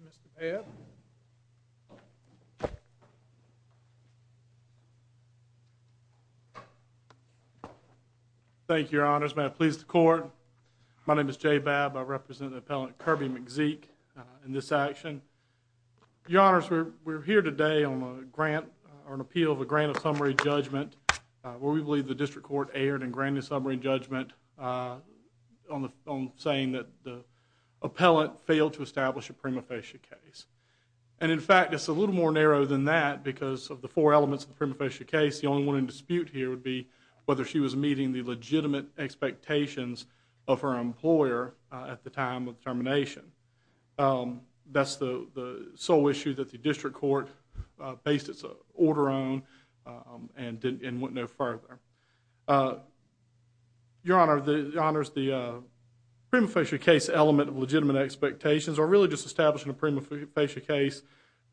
Mr. Babb Thank you, Your Honors. May it please the Court, my name is Jay Babb. I represent the District Court. We're here today on an appeal of a grant of summary judgment where we believe the District Court erred in granting summary judgment on saying that the appellant failed to establish a prima facie case. And in fact, it's a little more narrow than that because of the four elements of the prima facie case. The only one in dispute here would be whether she was meeting the legitimate expectations of her employer at the time of termination. That's the sole issue that the District Court based its order on and went no further. Your Honor, Your Honors, the prima facie case element of legitimate expectations or really just establishing a prima facie case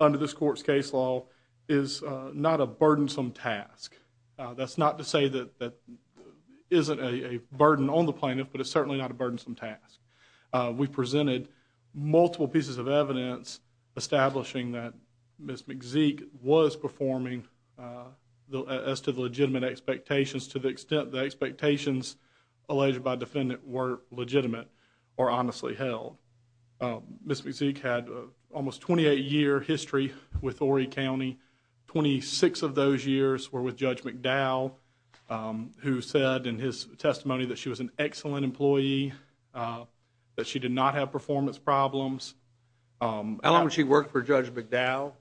under this Court's case law is not a burdensome task. That's not to say that it isn't a burden on the plaintiff, but it's certainly not a of evidence establishing that Ms. McZeek was performing as to the legitimate expectations to the extent the expectations alleged by defendant were legitimate or honestly held. Ms. McZeek had almost 28 year history with Horry County. 26 of those years were with Judge McDowell who said in his testimony that she was an excellent employee, that she did not have performance problems. How long did she work for Judge McDowell?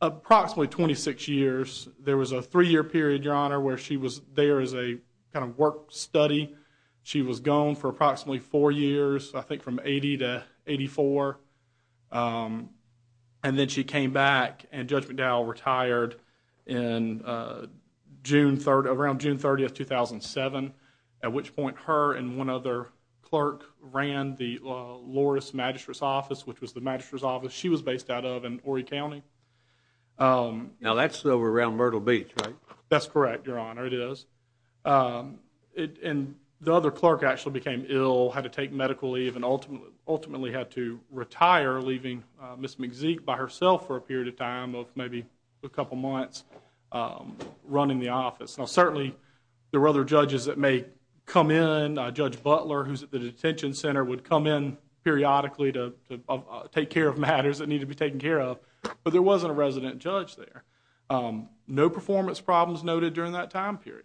Approximately 26 years. There was a three-year period, Your Honor, where she was there as a kind of work study. She was gone for approximately four years, I think from 80 to 84. And then she came back and Judge McDowell retired around June 30, 2007, at which point her and one other clerk ran the Loris Magistrate's Office, which was the Magistrate's Office she was based out of in Horry County. Now that's over around Myrtle Beach, right? That's correct, Your Honor, it is. And the other clerk actually became ill, had to take medical leave and ultimately had to retire, leaving Ms. McZeek by herself for a period of time of maybe a couple months running the office. Now certainly there were other judges that may come in, Judge Butler, who's at the detention center, would come in periodically to take care of matters that needed to be taken care of, but there wasn't a resident judge there. No performance problems noted during that time period.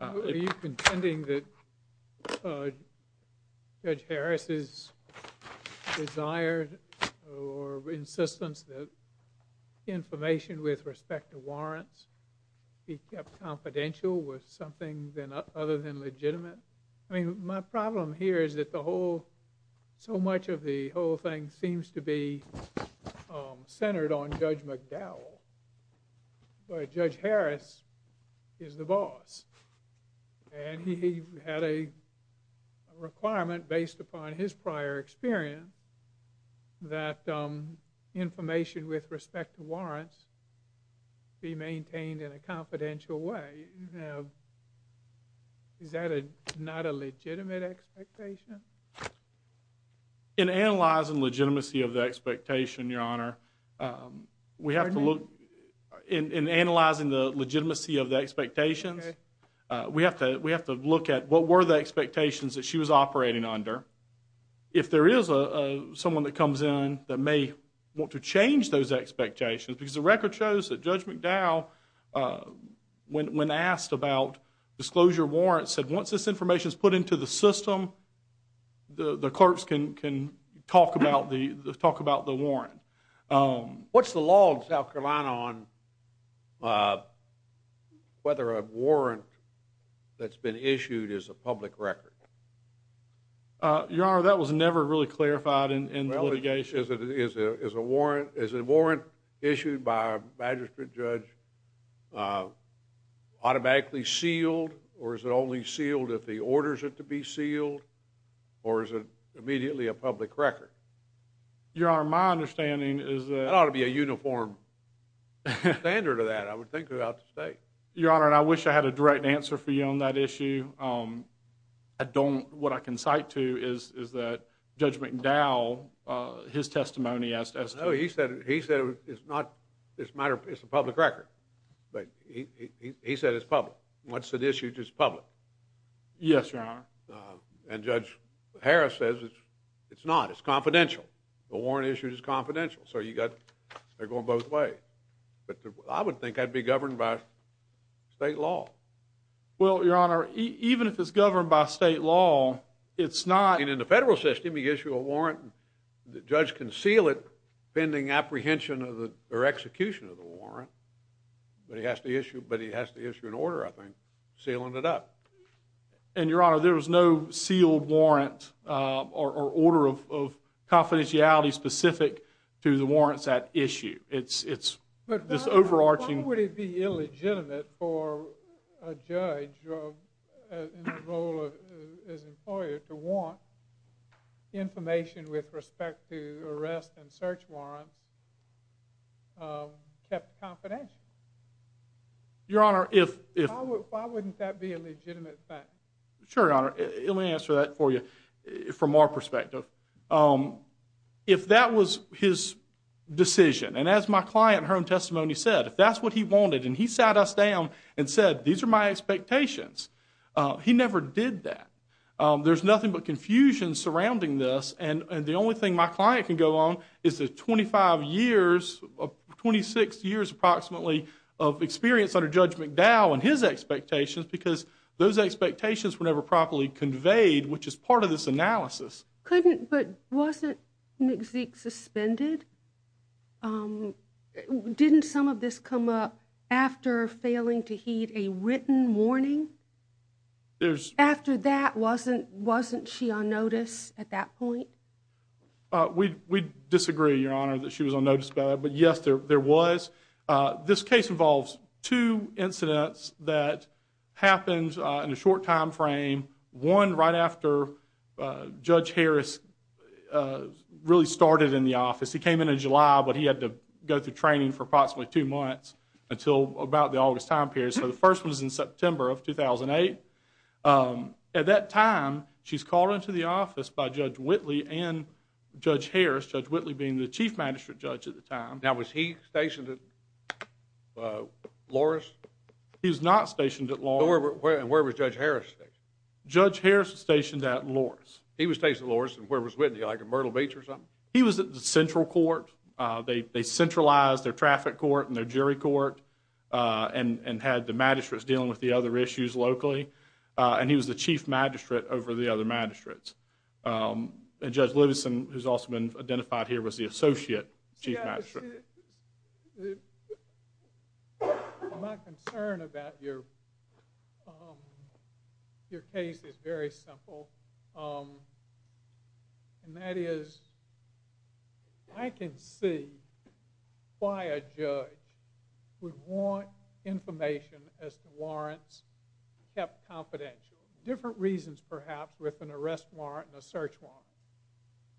Are you contending that Judge Harris's desire or insistence that information with respect to warrants be kept confidential was something other than legitimate? I mean, my problem here is that so much of the whole thing seems to be centered on Judge McDowell, but Judge Harris is the boss. And he had a requirement based upon his prior experience that information with respect to warrants be maintained in a confidential way. Now, is that not a legitimate expectation? In analyzing legitimacy of the expectation, Your Honor, we have to look, in analyzing the legitimacy of the expectations, we have to look at what were the expectations that she was operating under. If there is someone that comes in that may want to change those expectations, because the record shows that Judge McDowell, when asked about disclosure warrants, said once this information is put into the system, the clerks can talk about the warrant. What's the law in South Carolina on whether a warrant that's been issued is a public record? Your Honor, that was never really clarified in the litigation. Well, is a warrant issued by a magistrate judge automatically sealed, or is it only sealed if he orders it to be sealed, or is it immediately a public record? Your Honor, my understanding is that... That ought to be a uniform standard of that, I would think, throughout the state. Your Honor, and I wish I had a direct answer for you on that issue. I don't, what I can cite to is that Judge McDowell, his testimony as to... No, he said it's not, it's a matter of, it's a public record, but he said it's public. Once it's issued, it's public. Yes, Your Honor. And Judge Harris says it's not, it's confidential. The warrant issued is confidential, so you got, they're going both ways. I would think that'd be governed by state law. Well, Your Honor, even if it's governed by state law, it's not... And in the federal system, he gives you a warrant, the judge can seal it pending apprehension of the, or execution of the warrant, but he has to issue, but he has to issue an order, I think, sealing it up. And Your Honor, there was no sealed warrant, or order of confidentiality specific to the warrants at issue. It's, it's this overarching... But why would it be illegitimate for a judge in the role of his employer to want information with respect to arrest and search warrants kept confidential? Your Honor, if... Why wouldn't that be a legitimate fact? Sure, Your Honor. Let me answer that for you, from our perspective. If that was his decision, and as my client in her own testimony said, if that's what he wanted, and he sat us down and said, these are my expectations, he never did that. There's nothing but confusion surrounding this, and the only thing my client can go on is the 25 years, 26 years approximately, of experience under Judge McDowell and his expectations, because those expectations were never properly conveyed, which is part of this analysis. Couldn't, but wasn't McZeek suspended? Didn't some of this come up after failing to heed a written warning? After that, wasn't, wasn't she on notice at that point? We, we disagree, Your Honor, that she was on notice about that, but yes, there was. This case involves two incidents that happened in a short time frame, one right after Judge Harris really started in the office. He came in in July, but he had to go through training for approximately two months until about the August time period, so the first was in September of 2008. At that time, she's called into the office by Judge Whitley and Judge Harris, Judge Whitley being the chief magistrate judge at the time. Now, was he stationed at Loris? He was not stationed at Loris. And where was Judge Harris stationed? Judge Harris was stationed at Loris. He was stationed at Loris, and where was Whitney, like at Myrtle Beach or something? He was at the central court. They centralized their traffic court and their jury court, and had the magistrates dealing with the other issues locally, and he was the chief magistrate over the other magistrates. And Judge Livingston, who's also been identified here, was the associate chief magistrate. My concern about your case is very simple, and that is, I can see why a judge would want information as to warrants kept confidential. Different reasons perhaps with an arrest warrant and a search warrant.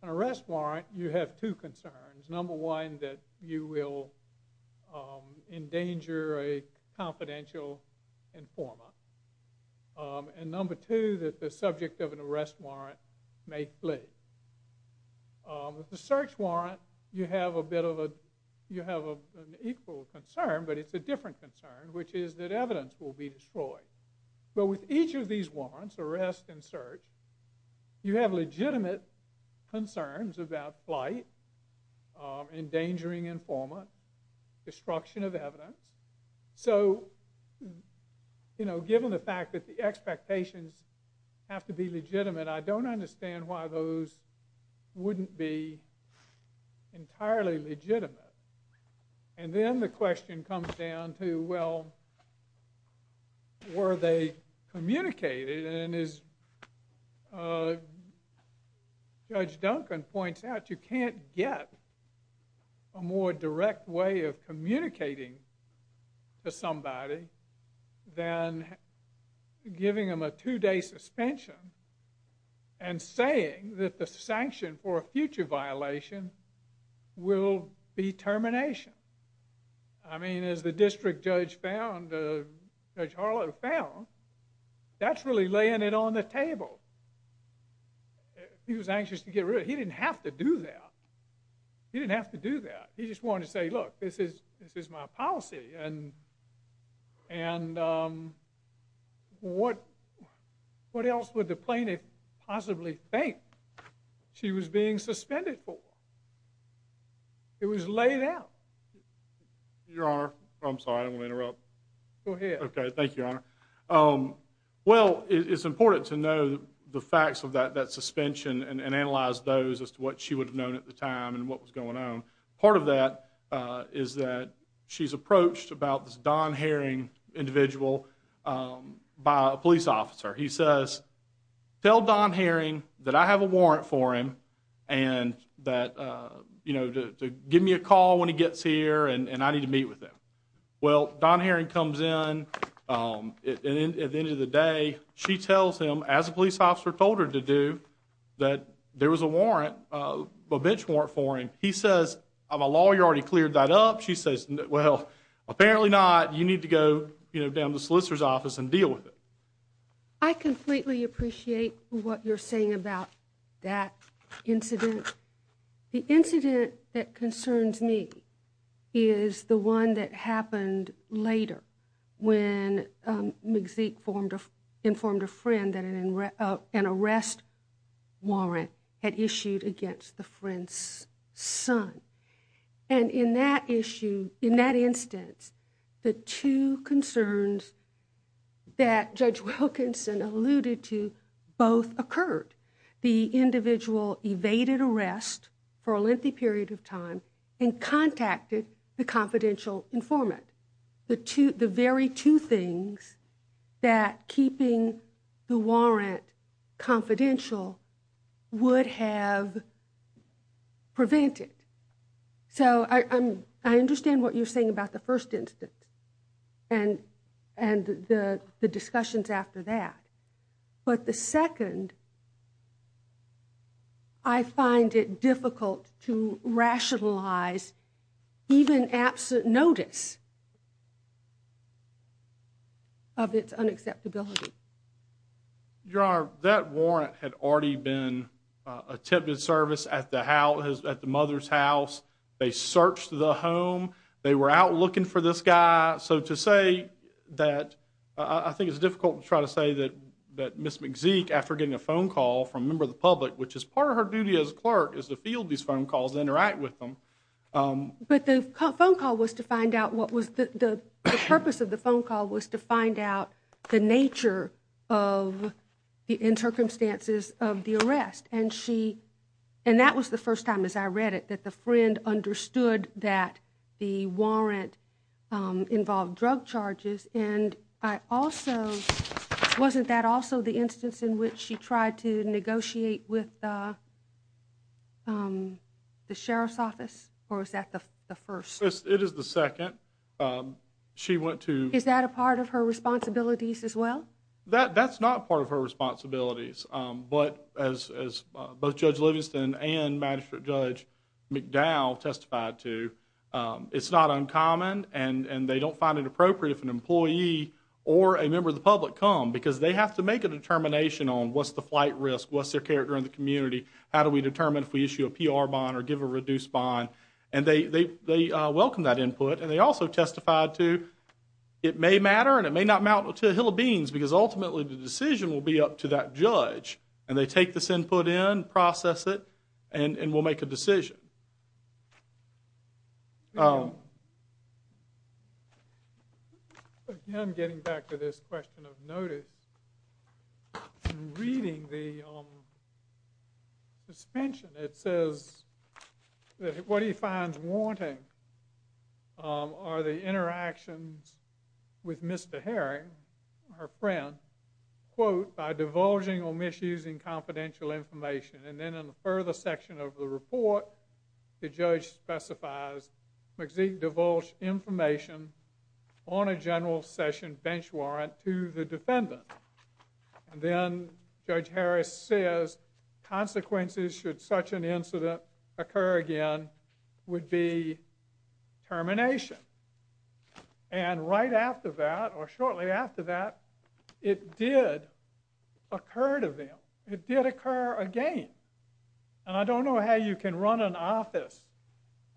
An arrest warrant, you have two concerns. Number one, that you will endanger a confidential informant. And number two, that the subject of an arrest warrant may flee. With the search warrant, you have a bit of a, you have an equal concern, but it's a different concern, which is that evidence will be destroyed. But with each of these warrants, arrest and search, you have legitimate concerns about flight, endangering informant, destruction of evidence. So, you know, given the fact that the expectations have to be legitimate, I don't understand why those wouldn't be entirely legitimate. And then the question comes down to, well, were they communicated? And as Judge Duncan points out, you can't get a more direct way of communicating to somebody than giving them a two-day suspension and saying that the sanction for a future violation will be termination. I mean, as the district judge found, Judge Harlow found, that's really laying it on the table. He was anxious to get rid of it. He didn't have to do that. He didn't have to do that. He just wanted to say, look, this is my policy. And what else would the district judge do? It was laid out. Your Honor, I'm sorry, I don't want to interrupt. Go ahead. Okay, thank you, Your Honor. Well, it's important to know the facts of that suspension and analyze those as to what she would have known at the time and what was going on. Part of that is that she's approached about this Don Herring individual by a police officer. He says, tell Don Herring that I have a warrant for him and that, you know, to give him a call when he gets here and I need to meet with him. Well, Don Herring comes in and at the end of the day, she tells him, as a police officer told her to do, that there was a bench warrant for him. He says, I'm a lawyer. You already cleared that up. She says, well, apparently not. You need to go down to the solicitor's office and deal with it. I completely appreciate what you're saying about that incident. The incident that concerns me is the one that happened later when McZeek informed a friend that an arrest warrant had issued against the friend's son. And in that instance, the two concerns that Judge Wilkinson alluded to both occurred. The individual evaded arrest for a lengthy period of time and contacted the confidential informant. The very two things that keeping the warrant confidential would have prevented. So I understand what you're saying about the first instance and the discussions after that. But the second, I find it difficult to rationalize even absent notice of its unacceptability. Your Honor, that warrant had already been attempted service at the mother's house. They searched the home. They were out looking for this guy. So to say that, I think it's difficult to try to say that Ms. McZeek, after getting a phone call from a member of the public, which is part of her duty as a clerk, is to field these phone calls and interact with them. But the purpose of the phone call was to find out the nature of, in circumstances of the arrest. And that was the first time, as I read it, that the friend understood that the warrant involved drug charges. And I also, wasn't that also the instance in which she tried to negotiate with the sheriff's office? Or was that the first? It is the second. She went to... Is that a part of her responsibilities as well? That's not part of her responsibilities. But as both Judge Livingston and Magistrate Judge McDowell testified to, it's not uncommon. And they don't find it appropriate if an employee or a member of the public come, because they have to make a determination on what's the flight risk, what's their character in the community, how do we determine if we issue a PR bond or give a reduced bond. And they welcome that input. And they also testified to, it may matter and it may not matter to the hill of beans, because ultimately the decision will be up to that judge. And they take this input in, process it, and we'll make a decision. Again, getting back to this question of notice, reading the suspension, it says that what she finds wanting are the interactions with Mr. Herring, her friend, quote, by divulging or misusing confidential information. And then in the further section of the report, the judge specifies, McZeek divulged information on a general session bench warrant to the defendant. And then Judge Harris says, consequences should such an incident occur again, the judge would be termination. And right after that, or shortly after that, it did occur to them. It did occur again. And I don't know how you can run an office,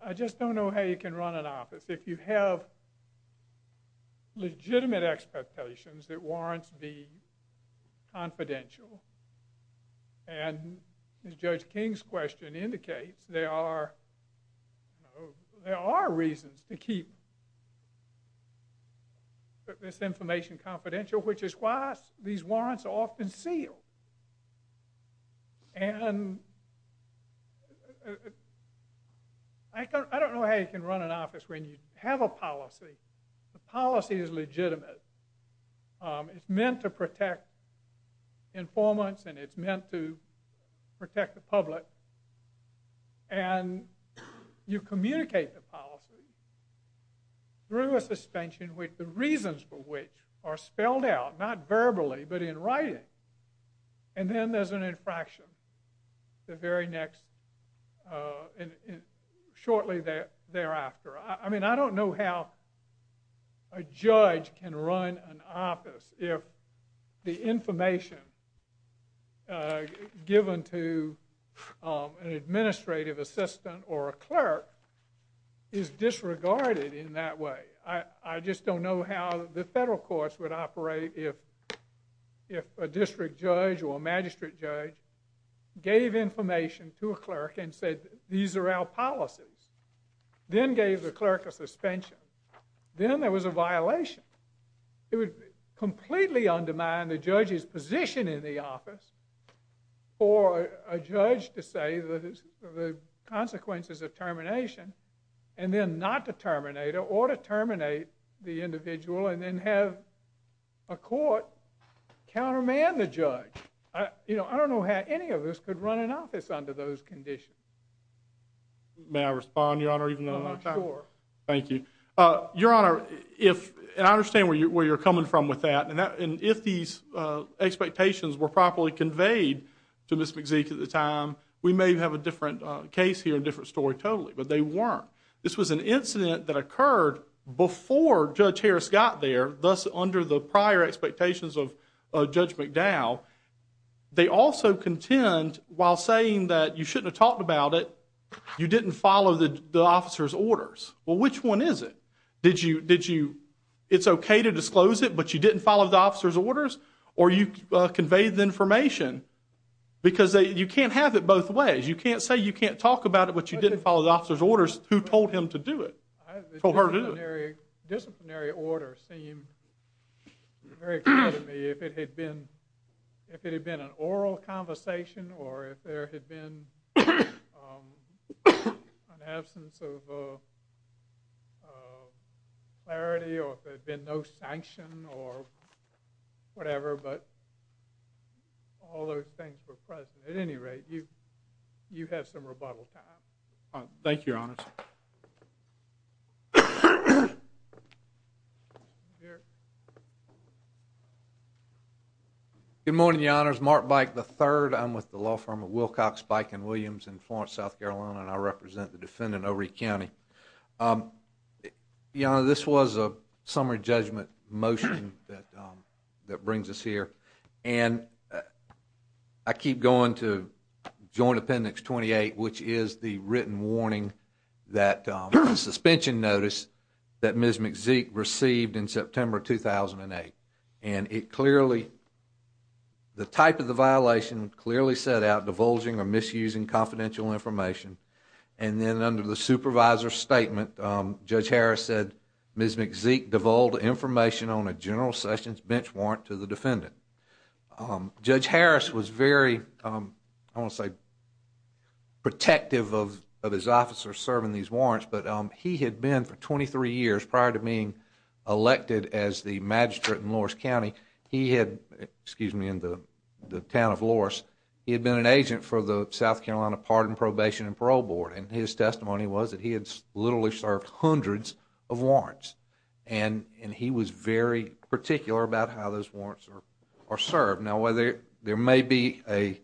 I just don't know how you can run an office if you have legitimate expectations that warrants be confidential. And Judge King's question indicates there are reasons to keep this information confidential, which is why these warrants are often sealed. And I don't know how you can run an office when you have a policy. The policy is legitimate. It's meant to protect informants and it's meant to protect the public. And you communicate the policy through a suspension with the reasons for which are spelled out, not verbally, but in writing. And then there's an infraction the very next, shortly thereafter. I mean, I don't know how a judge can run an office if the administrative assistant or a clerk is disregarded in that way. I just don't know how the federal courts would operate if a district judge or a magistrate judge gave information to a clerk and said, these are our policies. Then gave the clerk a suspension. Then there was a violation. It would completely undermine the judge's position in the office for a judge to say the consequences of termination and then not to terminate it or to terminate the individual and then have a court countermand the judge. I don't know how any of us could run an office under those conditions. May I respond, Your Honor, even though I'm out of time? Sure. Thank you. Your Honor, if, and I understand where you're coming from with that, and if these expectations were properly conveyed to Ms. McZeek at the time, we may have a different case here, a different story totally. But they weren't. This was an incident that occurred before Judge Harris got there, thus under the prior expectations of Judge McDowell. They also contend, while saying that you shouldn't have talked about it, you didn't follow the officer's orders. Well, which one is it? Did you, it's okay to disclose it, but you didn't follow the officer's orders? Or you conveyed the information? Because you can't have it both ways. You can't say you can't talk about it, but you didn't follow the officer's orders. Who told him to do it? Disciplinary order seemed very clear to me. If it had been an oral conversation or if there had been an absence of clarity or if there had been no sanction or whatever, but all those things were present. At any rate, you have some rebuttal time. Thank you, Your Honor. Thank you, Your Honor. Good morning, Your Honor. It's Mark Byke III. I'm with the law firm of Wilcox, Byke & Williams in Florence, South Carolina, and I represent the defendant, O'Ree County. Your Honor, this was a summary judgment motion that brings us here, and I keep going to Joint Appendix 28, which is the written warning, that suspension notice that Ms. McZeek received in September 2008, and it clearly, the type of the violation clearly set out divulging or misusing confidential information, and then under the supervisor's statement, Judge Harris said Ms. McZeek divulged information on a general sessions bench warrant to the defendant. Judge Harris was very, I mean, protective of his officers serving these warrants, but he had been for 23 years prior to being elected as the magistrate in Loras County, he had, excuse me, in the town of Loras, he had been an agent for the South Carolina Pardon, Probation, and Parole Board, and his testimony was that he had literally served hundreds of warrants, and he was very particular about how those warrants are served. Now, whether there may be a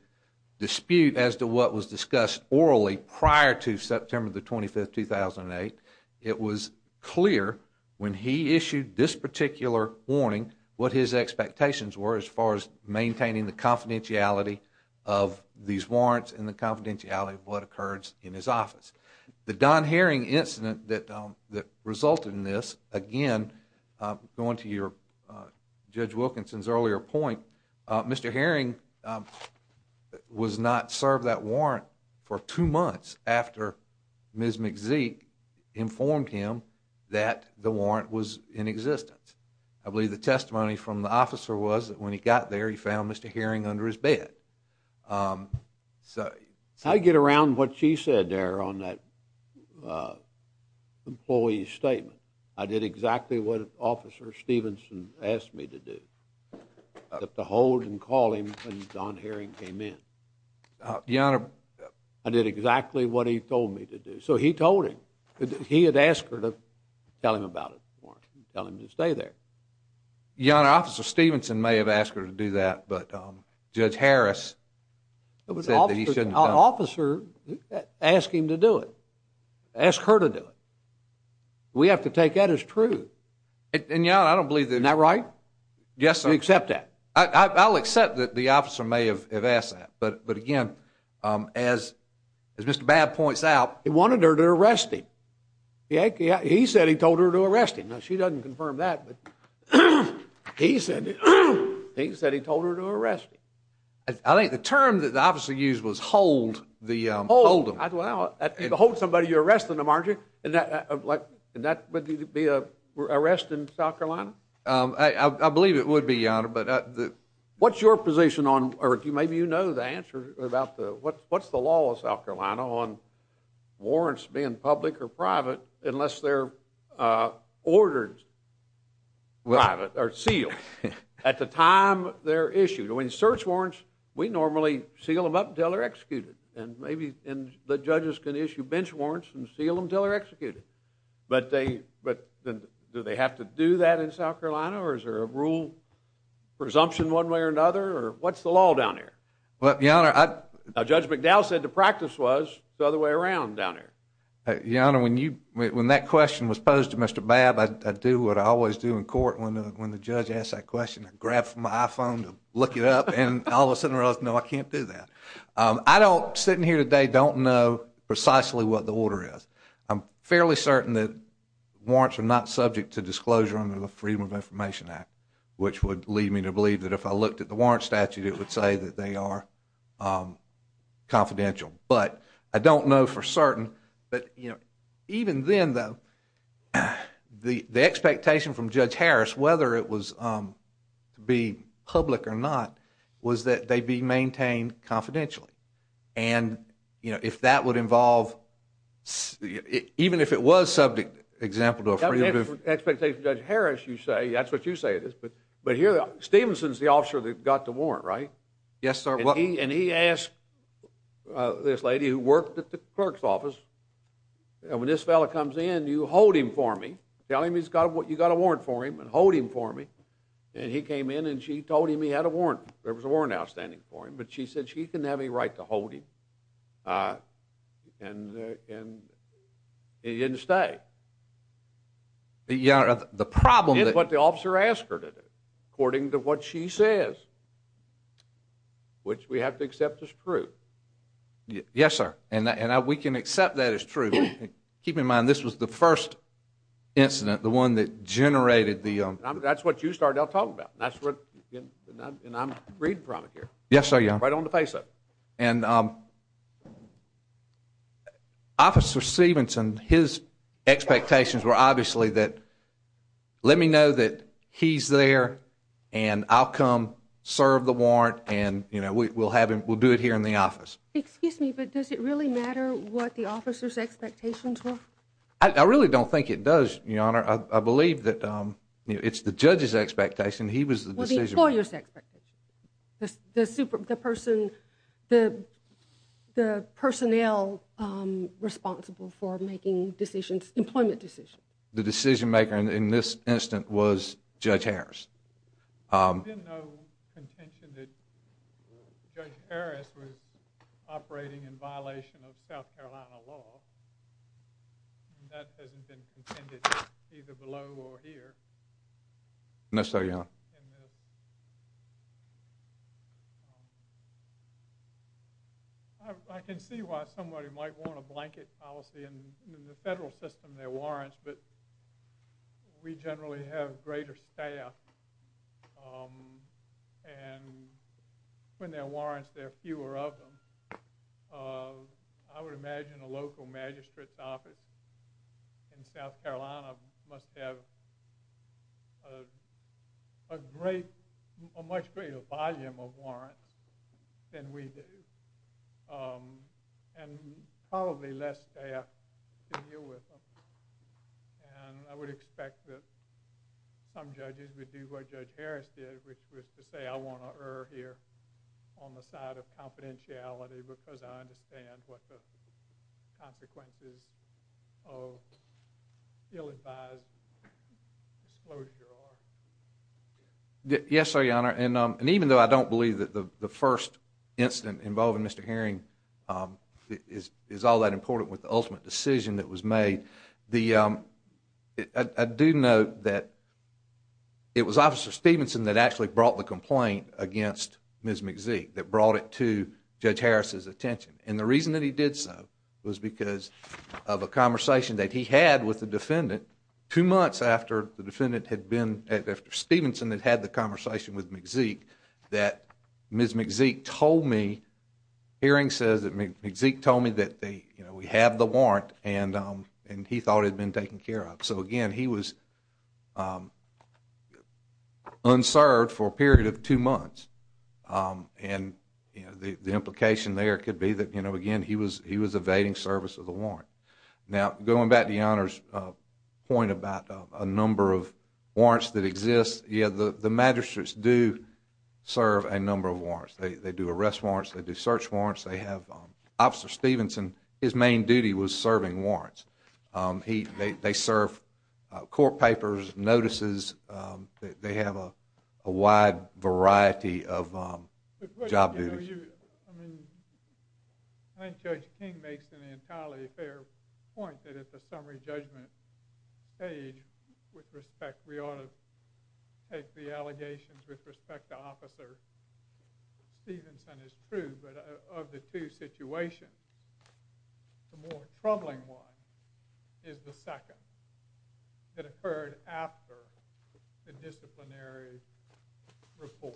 dispute as to what was discussed orally prior to September 25, 2008, it was clear when he issued this particular warning what his expectations were as far as maintaining the confidentiality of these warrants and the confidentiality of what occurs in his office. The Don Herring incident that resulted in this, again, going to Judge Wilkinson's earlier point, Mr. Herring was not served that warrant for two months after Ms. McZeek informed him that the warrant was in existence. I believe the testimony from the officer was that when he got there he found Mr. Herring under his bed. So I get around what she said there on that employee's statement. I did exactly what Officer Stevenson asked me to do, to hold and call him when Don Herring came in. I did exactly what he told me to do. So he told him. He had asked her to tell him about his warrant, to tell him to stay there. Your Honor, Officer Stevenson may have asked her to do that, but Judge Harris said that he shouldn't have done it. But the officer asked him to do it, asked her to do it. We have to take that as true. And, Your Honor, I don't believe that... Isn't that right? Yes, sir. You accept that? I'll accept that the officer may have asked that, but again, as Mr. Babb points out... He wanted her to arrest him. He said he told her to arrest him. Now, she doesn't confirm that, but he said he told her to arrest him. I think the term that the officer used was hold the... Hold somebody, you're arresting them, aren't you? And that would be an arrest in South Carolina? I believe it would be, Your Honor, but... What's your position on, or maybe you know the answer about the... What's the law of South Carolina on warrants being public or private unless they're ordered private or sealed at the time they're issued? When search warrants, we normally seal them up until they're executed. But do they have to do that in South Carolina, or is there a rule presumption one way or another, or what's the law down there? Well, Your Honor, I... Now, Judge McDowell said the practice was the other way around down there. Your Honor, when that question was posed to Mr. Babb, I do what I always do in court when the judge asks that question. I grab my iPhone to look it up, and all of a sudden I realize, no, I can't do that. I don't, sitting here today, don't know precisely what the order is. I'm fairly certain that warrants are not subject to disclosure under the Freedom of Information Act, which would lead me to believe that if I looked at the warrant statute, it would say that they are confidential. But I don't know for certain that, you know, even then, though, the expectation from Judge Harris, whether it was to be public or not, was that they be maintained confidentially. And, you know, if that would involve, even if it was subject, example to a Freedom of... The expectation from Judge Harris, you say, that's what you say it is, but here, Stevenson is the officer that got the warrant, right? Yes, sir. And he asked this lady who worked at the clerk's office, and when this fella comes in, you hold him for me. Tell him you got a warrant for him, and hold him for me. And he came in and she told him he had a warrant. There was a warrant outstanding for him, but she said she didn't have any right to hold him. And he didn't stay. Your Honor, the problem... It's what the officer asked her to do, according to what she says, which we have to accept as true. Yes, sir. And we can accept that as true. Keep in mind, this was the first incident, the one that generated the... That's what you started out talking about, and I'm reading from it here. Yes, sir, Your Honor. Right on the face of it. And Officer Stevenson, his expectations were obviously that, let me know that he's there and I'll come serve the warrant, and we'll do it here in the office. Excuse me, but does it really matter what the officer's expectations were? I really don't think it does, Your Honor. I believe that it's the judge's expectation. He was the decision-maker. Well, the employer's expectation. The personnel responsible for making decisions, employment decisions. The decision-maker in this incident was Judge Harris. There's been no contention that Judge Harris was operating in violation of South Carolina law, and that hasn't been contended either below or here. No, sir, Your Honor. I can see why somebody might want a blanket policy, and in the federal system, there are warrants, but we generally have greater staff, and when there are warrants, there are fewer of them. I would imagine a local magistrate's office in South Carolina must have a much greater volume of warrants than we do, and probably less staff to deal with them, and I would expect that some judges would do what Judge Harris did, which was to say, I want to err here on the side of confidentiality because I understand what the consequences of ill-advised disclosure are. Yes, sir, Your Honor, and even though I don't believe that the first incident involving Mr. Herring is all that important with the ultimate decision that was made, I do know that it was Officer Stevenson that actually brought the complaint against Ms. McZeek, that brought it to Judge Harris' attention, and the reason that he did so was because of a conversation that he had with the defendant two months after the defendant had been... after Stevenson had had the conversation with McZeek, that Ms. McZeek told me... Herring says that McZeek told me that we have the warrant, and he thought it had been taken care of. So, again, he was unserved for a period of two months, and the implication there could be that, again, he was evading service of the warrant. Now, going back to Your Honor's point about a number of warrants that exist, yeah, the magistrates do serve a number of warrants. They do arrest warrants. They do search warrants. They have... Officer Stevenson, his main duty was serving warrants. They serve court papers, notices. They have a wide variety of job duties. I mean, I think Judge King makes an entirely fair point that at the allegations with respect to Officer Stevenson is true, but of the two situations, the more troubling one is the second that occurred after the disciplinary report.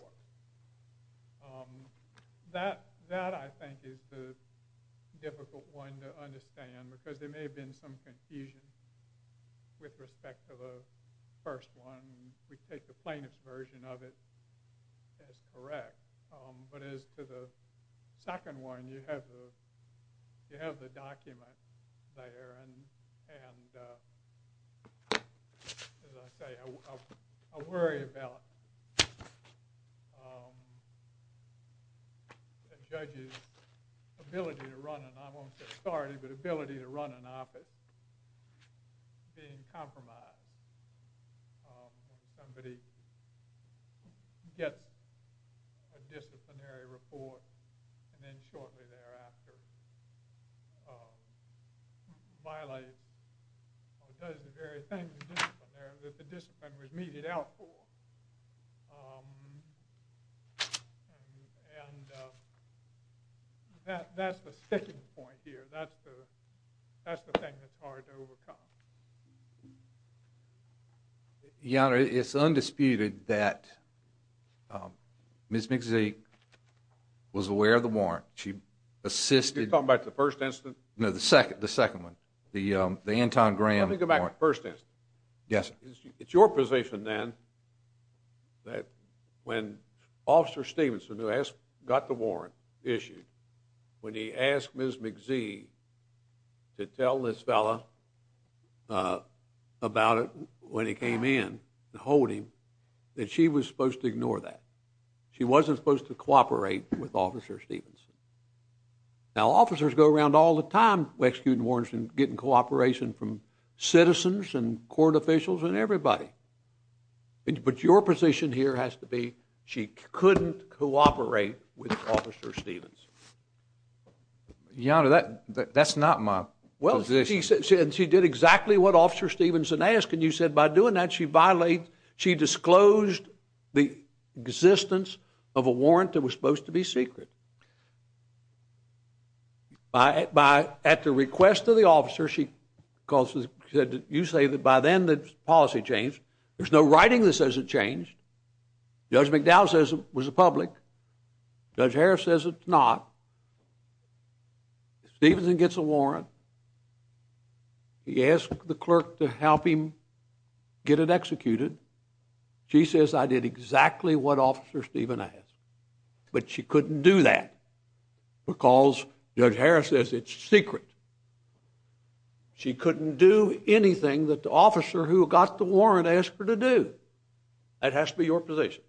That, I think, is the difficult one to understand because there may have been some confusion with respect to the first one. We take the plaintiff's version of it as correct, but as to the second one, you have the document there, and as I say, I worry about the judge's ability to run an, I won't say authority, but ability to run an office being compromised when somebody gets a disciplinary report, and then shortly thereafter violates or does the very thing that the discipline was meted out for. And that's the sticking point here. That's the thing that's hard to overcome. Your Honor, it's undisputed that Ms. McZeek was aware of the warrant. She assisted... You're talking about the first incident? No, the second one, the Anton Graham warrant. Let me go back to the first incident. Yes, sir. It's your position then that when Officer Stevenson, who got the warrant issued, when he asked Ms. McZeek to tell this fella about it when he came in and hold him, that she was supposed to ignore that. She wasn't supposed to cooperate with Officer Stevenson. Now, officers go around all the time executing warrants and getting cooperation from citizens and court officials and everybody. But your position here has to be she couldn't cooperate with Officer Stevenson. Your Honor, that's not my position. Well, she did exactly what Officer Stevenson asked, and you said by doing that she disclosed the existence of a warrant that was supposed to be secret. At the request of the officer, you say that by then the policy changed. There's no writing that says it changed. Judge McDowell says it was a public. Judge Harris says it's not. Stevenson gets a warrant. He asks the clerk to help him get it executed. She says, I did exactly what Officer Steven asked. But she couldn't do that because Judge Harris says it's secret. She couldn't do anything that the officer who got the warrant asked her to do. That has to be your position.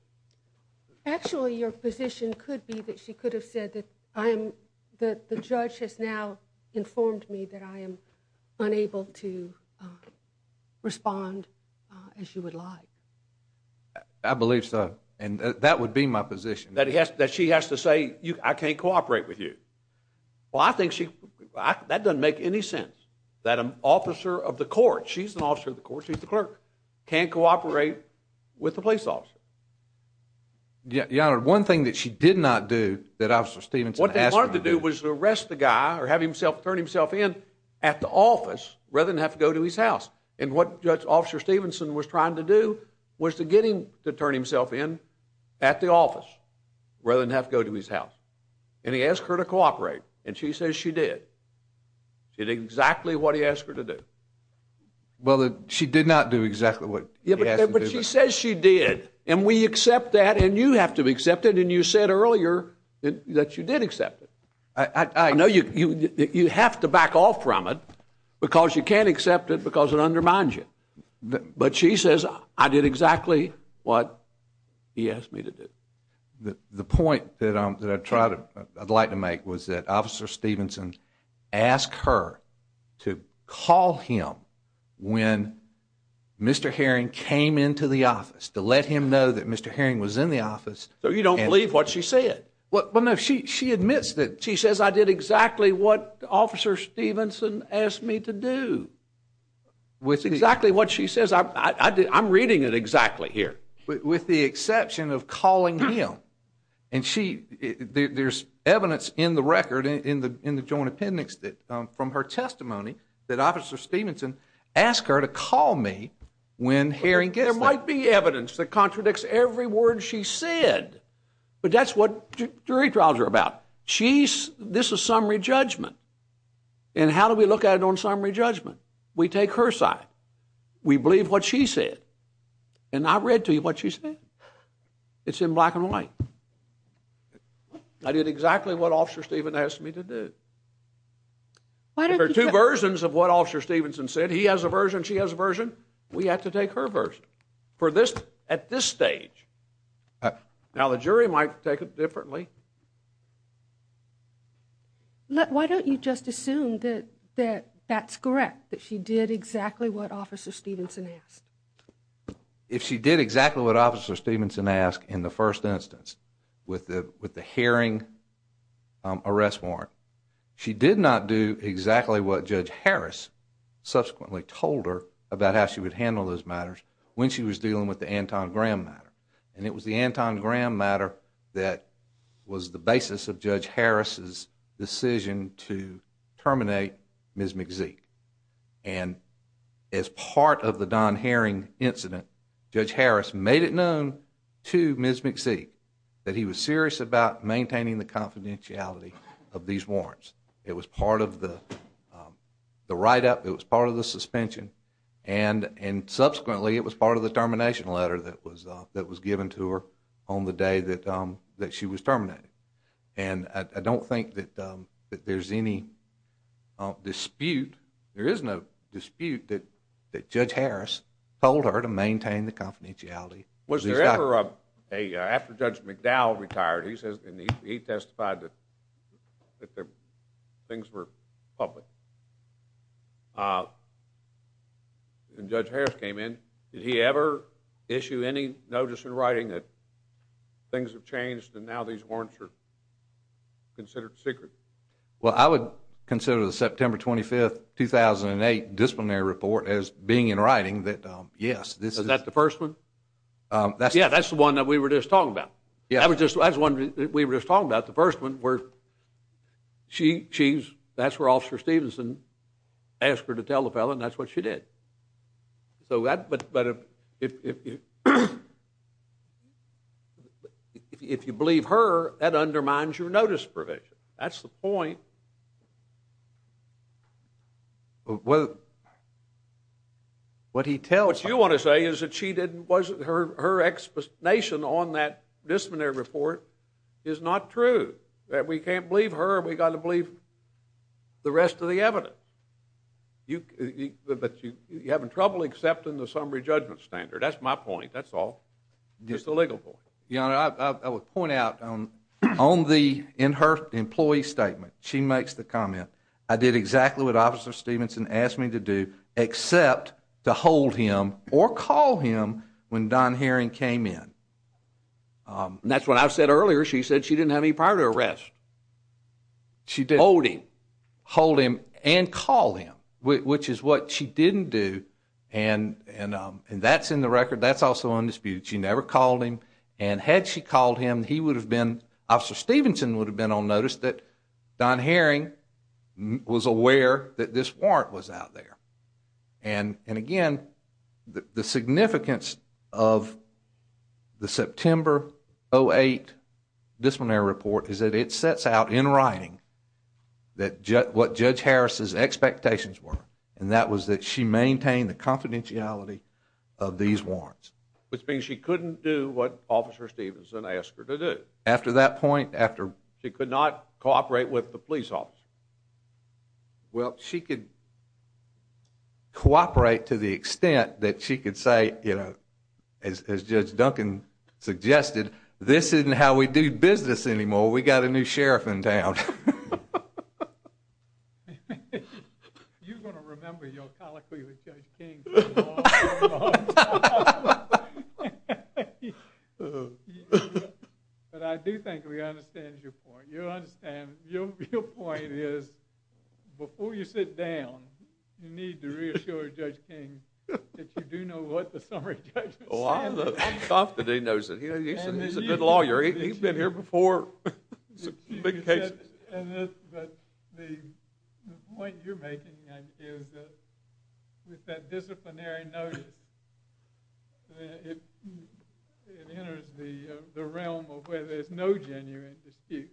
Actually, your position could be that she could have said that the judge has now informed me that I am unable to respond as you would like. I believe so. And that would be my position. That she has to say, I can't cooperate with you. Well, I think that doesn't make any sense that an officer of the court, she's an officer of the court, she's the clerk, can't cooperate with the police officer. Your Honor, one thing that she did not do that Officer Stevenson asked her to do. What they wanted to do was arrest the guy or have him turn himself in at the office rather than have to go to his house. And what Officer Stevenson was trying to do was to get him to turn himself in at the office rather than have to go to his house. And he asked her to cooperate. And she says she did. She did exactly what he asked her to do. Well, she did not do exactly what he asked her to do. But she says she did. And we accept that. And you have to accept it. And you said earlier that you did accept it. I know you have to back off from it because you can't accept it because it undermines you. But she says I did exactly what he asked me to do. The point that I'd like to make was that Officer Stevenson asked her to call him when Mr. Herring came into the office to let him know that Mr. Herring was in the office. So you don't believe what she said? Well, no. She admits that. She says I did exactly what Officer Stevenson asked me to do. Which is exactly what she says. I'm reading it exactly here. With the exception of calling him. And there's evidence in the record in the Joint Appendix from her testimony that Officer Stevenson asked her to call me when Herring gets there. There might be evidence that contradicts every word she said. But that's what jury trials are about. This is summary judgment. And how do we look at it on summary judgment? We take her side. We believe what she said. And I read to you what she said. It's in black and white. I did exactly what Officer Stevenson asked me to do. If there are two versions of what Officer Stevenson said, he has a version, she has a version, we have to take her version. For this, at this stage. Now the jury might take it differently. Why don't you just assume that that's correct. That she did exactly what Officer Stevenson asked. If she did exactly what Officer Stevenson asked in the first instance. With the Herring arrest warrant. She did not do exactly what Judge Harris subsequently told her about how she would handle those matters when she was dealing with the Anton Graham matter. And it was the Anton Graham matter that was the basis of Judge Harris' decision to terminate Ms. McZeek. And as part of the Don Herring incident, Judge Harris made it known to Ms. McZeek that he was serious about maintaining the confidentiality of these warrants. It was part of the write-up, it was part of the suspension, and subsequently it was part of the termination letter that was given to her on the day that she was terminated. And I don't think that there's any dispute, there is no dispute that Judge Harris told her to maintain the confidentiality. Was there ever a, after Judge McDowell retired, he testified that things were public, and Judge Harris came in, did he ever issue any notice in writing that things have changed and now these warrants are considered secret? Well, I would consider the September 25, 2008, disciplinary report as being in writing that yes, this is... Is that the first one? Yeah, that's the one that we were just talking about. Yeah. That's the one that we were just talking about, the first one, where that's where Officer Stevenson asked her to tell the felon and that's what she did. So that, but if you believe her, that undermines your notice provision. That's the point. Well, what he tells her... What you want to say is that she didn't, her explanation on that disciplinary report is not true, that we can't believe her, we've got to believe the rest of the evidence. But you're having trouble accepting the summary judgment standard. That's my point, that's all. Just the legal point. Your Honor, I would point out, on the, in her employee statement, she makes the comment, I did exactly what Officer Stevenson asked me to do except to hold him or call him when Don Herring came in. That's what I said earlier, she said she didn't have any prior to arrest. She didn't. Hold him. Hold him and call him, which is what she didn't do and that's in the record, that's also undisputed. She never called him and had she called him, he would have been, Officer Stevenson would have been on notice that Don Herring was aware that this warrant was out there and again, the significance of the September 08 disciplinary report is that it sets out in writing that what Judge Harris' expectations were and that was that she maintained the confidentiality of these warrants. Which means she couldn't do what Officer Stevenson asked her to do. After that point, after she could not cooperate with the police officer. Well, she could cooperate to the extent that she could say, you know, as Judge Duncan suggested, this isn't how we do business anymore, we got a new sheriff in town. You're going to remember your colloquy with Judge King for a long, long time. But I do think we understand your point. You understand, your point is before you sit down, you need to reassure Judge King that you do know what the summary judgment says. I'm confident he knows it. He's a good lawyer. He's been here before. Big cases. The point you're making is that disciplinary notice it it enters the realm of where there's no genuine dispute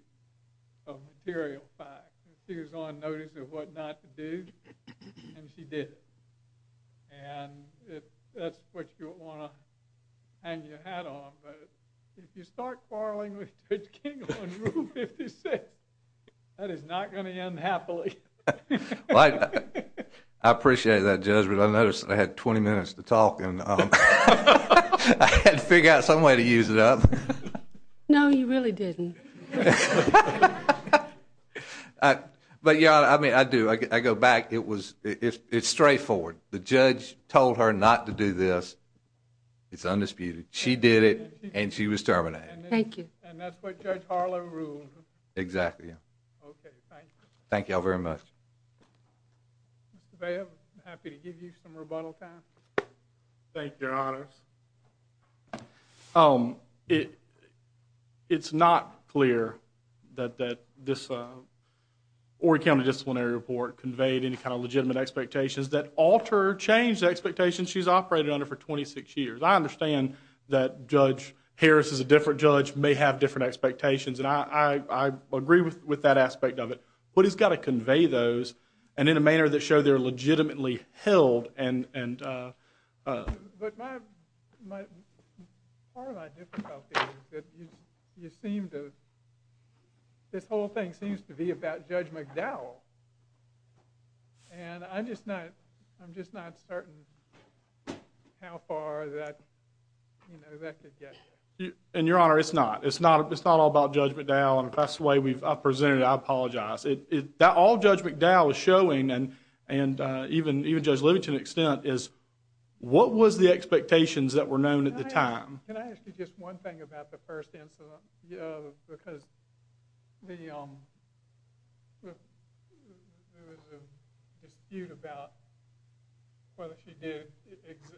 of material facts. She was on notice of what not to do and she did it. And that's what you want to hang your hat on, but if you start quarreling with Judge King on Rule 56, that is not going to end happily. Well, I I appreciate that judgment. I noticed I had 20 minutes to talk and I had to figure out some way to use it up. No, you really didn't. But yeah, I mean, I do. I go back. It was it's straightforward. The judge told her not to do this. It's undisputed. She did it and she was terminated. Thank you. And that's what Judge Harlow ruled. Exactly. Thank you. Thank you all very much. I'm happy to give you some rebuttal time. Thank you, Your Honor. It's not clear that this Horry County disciplinary report conveyed any kind of legitimate expectations that alter or change the expectations she's operated under for 26 years. I understand that Judge Harris is a different judge, may have different expectations, and I agree with that aspect of it. But he's got to convey those and in a manner that show they're legitimately held and But my part of my difficulty is that you seem to this whole thing seems to be about Judge McDowell. And I'm just not I'm just not certain how far that that could get. And Your Honor, it's not. It's not all about Judge McDowell. And if that's the way I've presented it, I apologize. All Judge McDowell is showing and even Judge Livingston's extent is what was the expectations that were known at the time? Can I ask you just one thing about the first incident? Because there was a dispute about whether she did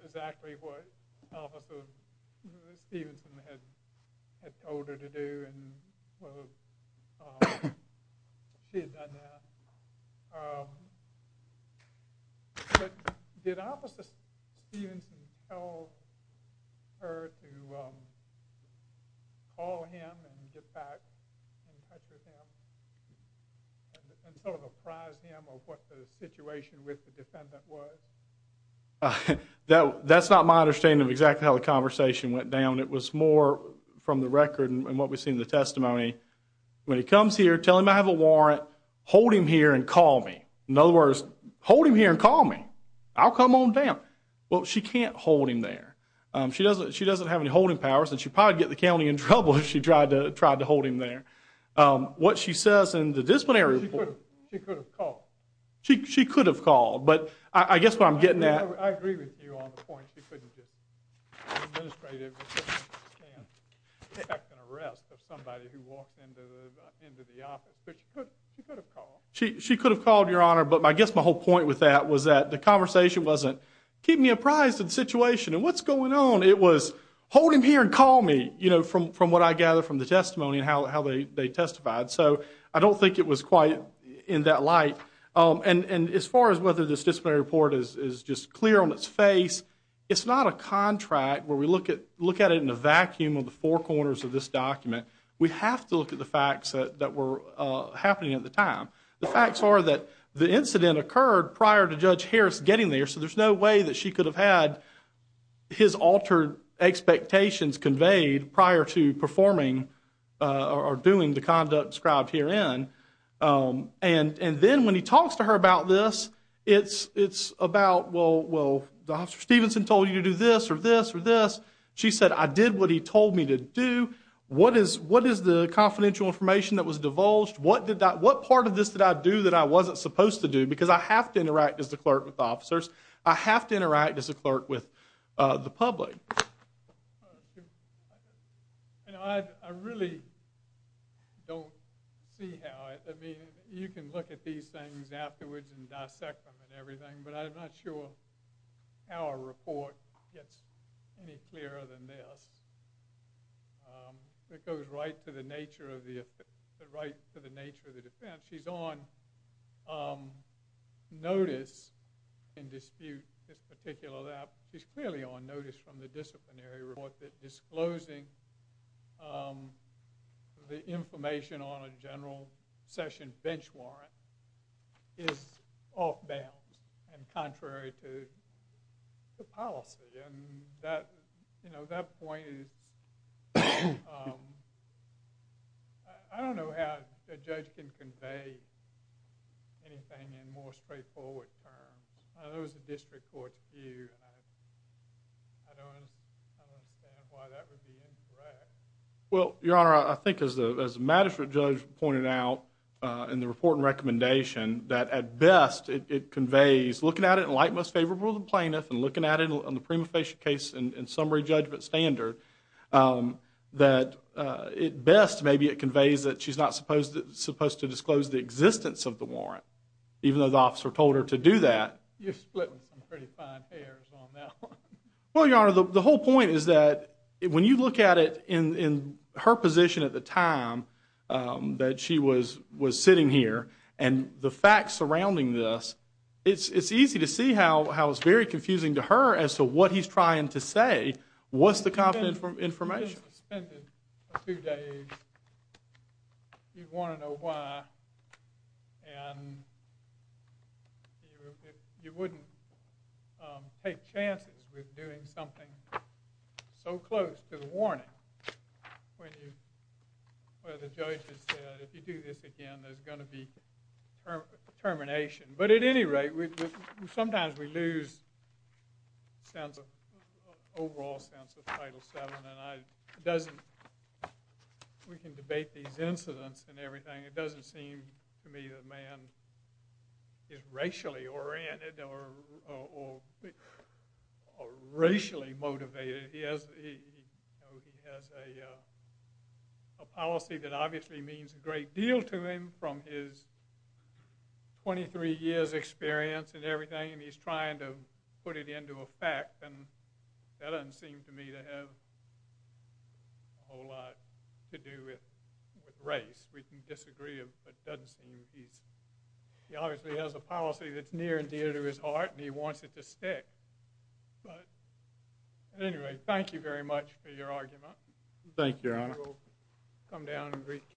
exactly what Stevenson had told her to do and she had done that. But did Officer Stevenson tell her to call him and get back in touch with him? And sort of apprise him of what the situation with the defendant was? That's not my understanding of exactly how the conversation went down. It was more from the record and what we've seen in the testimony. When he comes here, tell him I have a warrant. Hold him here and call me. In other words, hold him here and call me. I'll come on down. Well, she can't hold him there. She doesn't have any holding powers and she'd probably get the county in trouble if she tried to hold him there. What she says in the disciplinary report She could have called. She could have called. But I guess what I'm getting at I agree with you on the point. She could have called, Your Honor. But I guess my whole point with that was that the conversation wasn't keep me apprised of the situation and what's going on. It was hold him here and call me. From what I gather from the testimony and how they testified. I don't think it was quite in that light. As far as whether this disciplinary report is just clear on its face it's not a contract where we look at it in a vacuum of the four corners of this document. We have to look at the facts that were happening at the time. The facts are that the incident occurred prior to Judge Harris getting there so there's no way that she could have had his altered expectations conveyed prior to performing or doing the conduct described herein. And then when he talks to her about this it's about Dr. Stevenson told you to do this or this or this. She said I did what he told me to do. What is the confidential information that was divulged? What part of this did I do that I wasn't supposed to do? Because I have to interact as the clerk with the officers. I have to interact as the clerk with the public. I really don't see how. I mean you can look at these things afterwards and dissect them and everything but I'm not sure how a report gets any clearer than this. It goes right to the nature of the defense. She's on notice in dispute this particular that she's clearly on notice from the disciplinary report that disclosing the information on a general session bench warrant is off bounds and contrary to the policy. And that, you know, that point is I don't know how a judge can convey anything in more straightforward terms. There was a district court view and I don't understand why that would be incorrect. Well, Your Honor, I think as a magistrate judge pointed out in the report and recommendation that at best it conveys looking at it in like most favorable of the plaintiff and looking at it on the prima facie case and summary judgment standard that at best maybe it conveys that she's not supposed to disclose the existence of the warrant even though the officer told her to do that. You're splitting some pretty fine hairs on that one. Well, Your Honor, the whole point is that when you look at it in her position at the time that she was sitting here and the facts surrounding this, it's easy to see how it's very confusing to her as to what he's trying to say. What's the confidential information? If you had suspended for a few days you'd want to know why and you wouldn't take chances with doing something so close to the warning where the judge has said if you do this again there's going to be termination. But at any rate, sometimes we lose the overall sense of Title VII and we can debate these incidents and everything. It doesn't seem to me that man is racially oriented or racially motivated. He has a policy that obviously means a great deal to him from his 23 years experience and everything and he's trying to put it into effect and that doesn't seem to me to have a whole lot to do with race. We can disagree but it doesn't seem he's he obviously has a policy that's near and dear to his heart and he wants it to stay. At any rate, thank you very much for your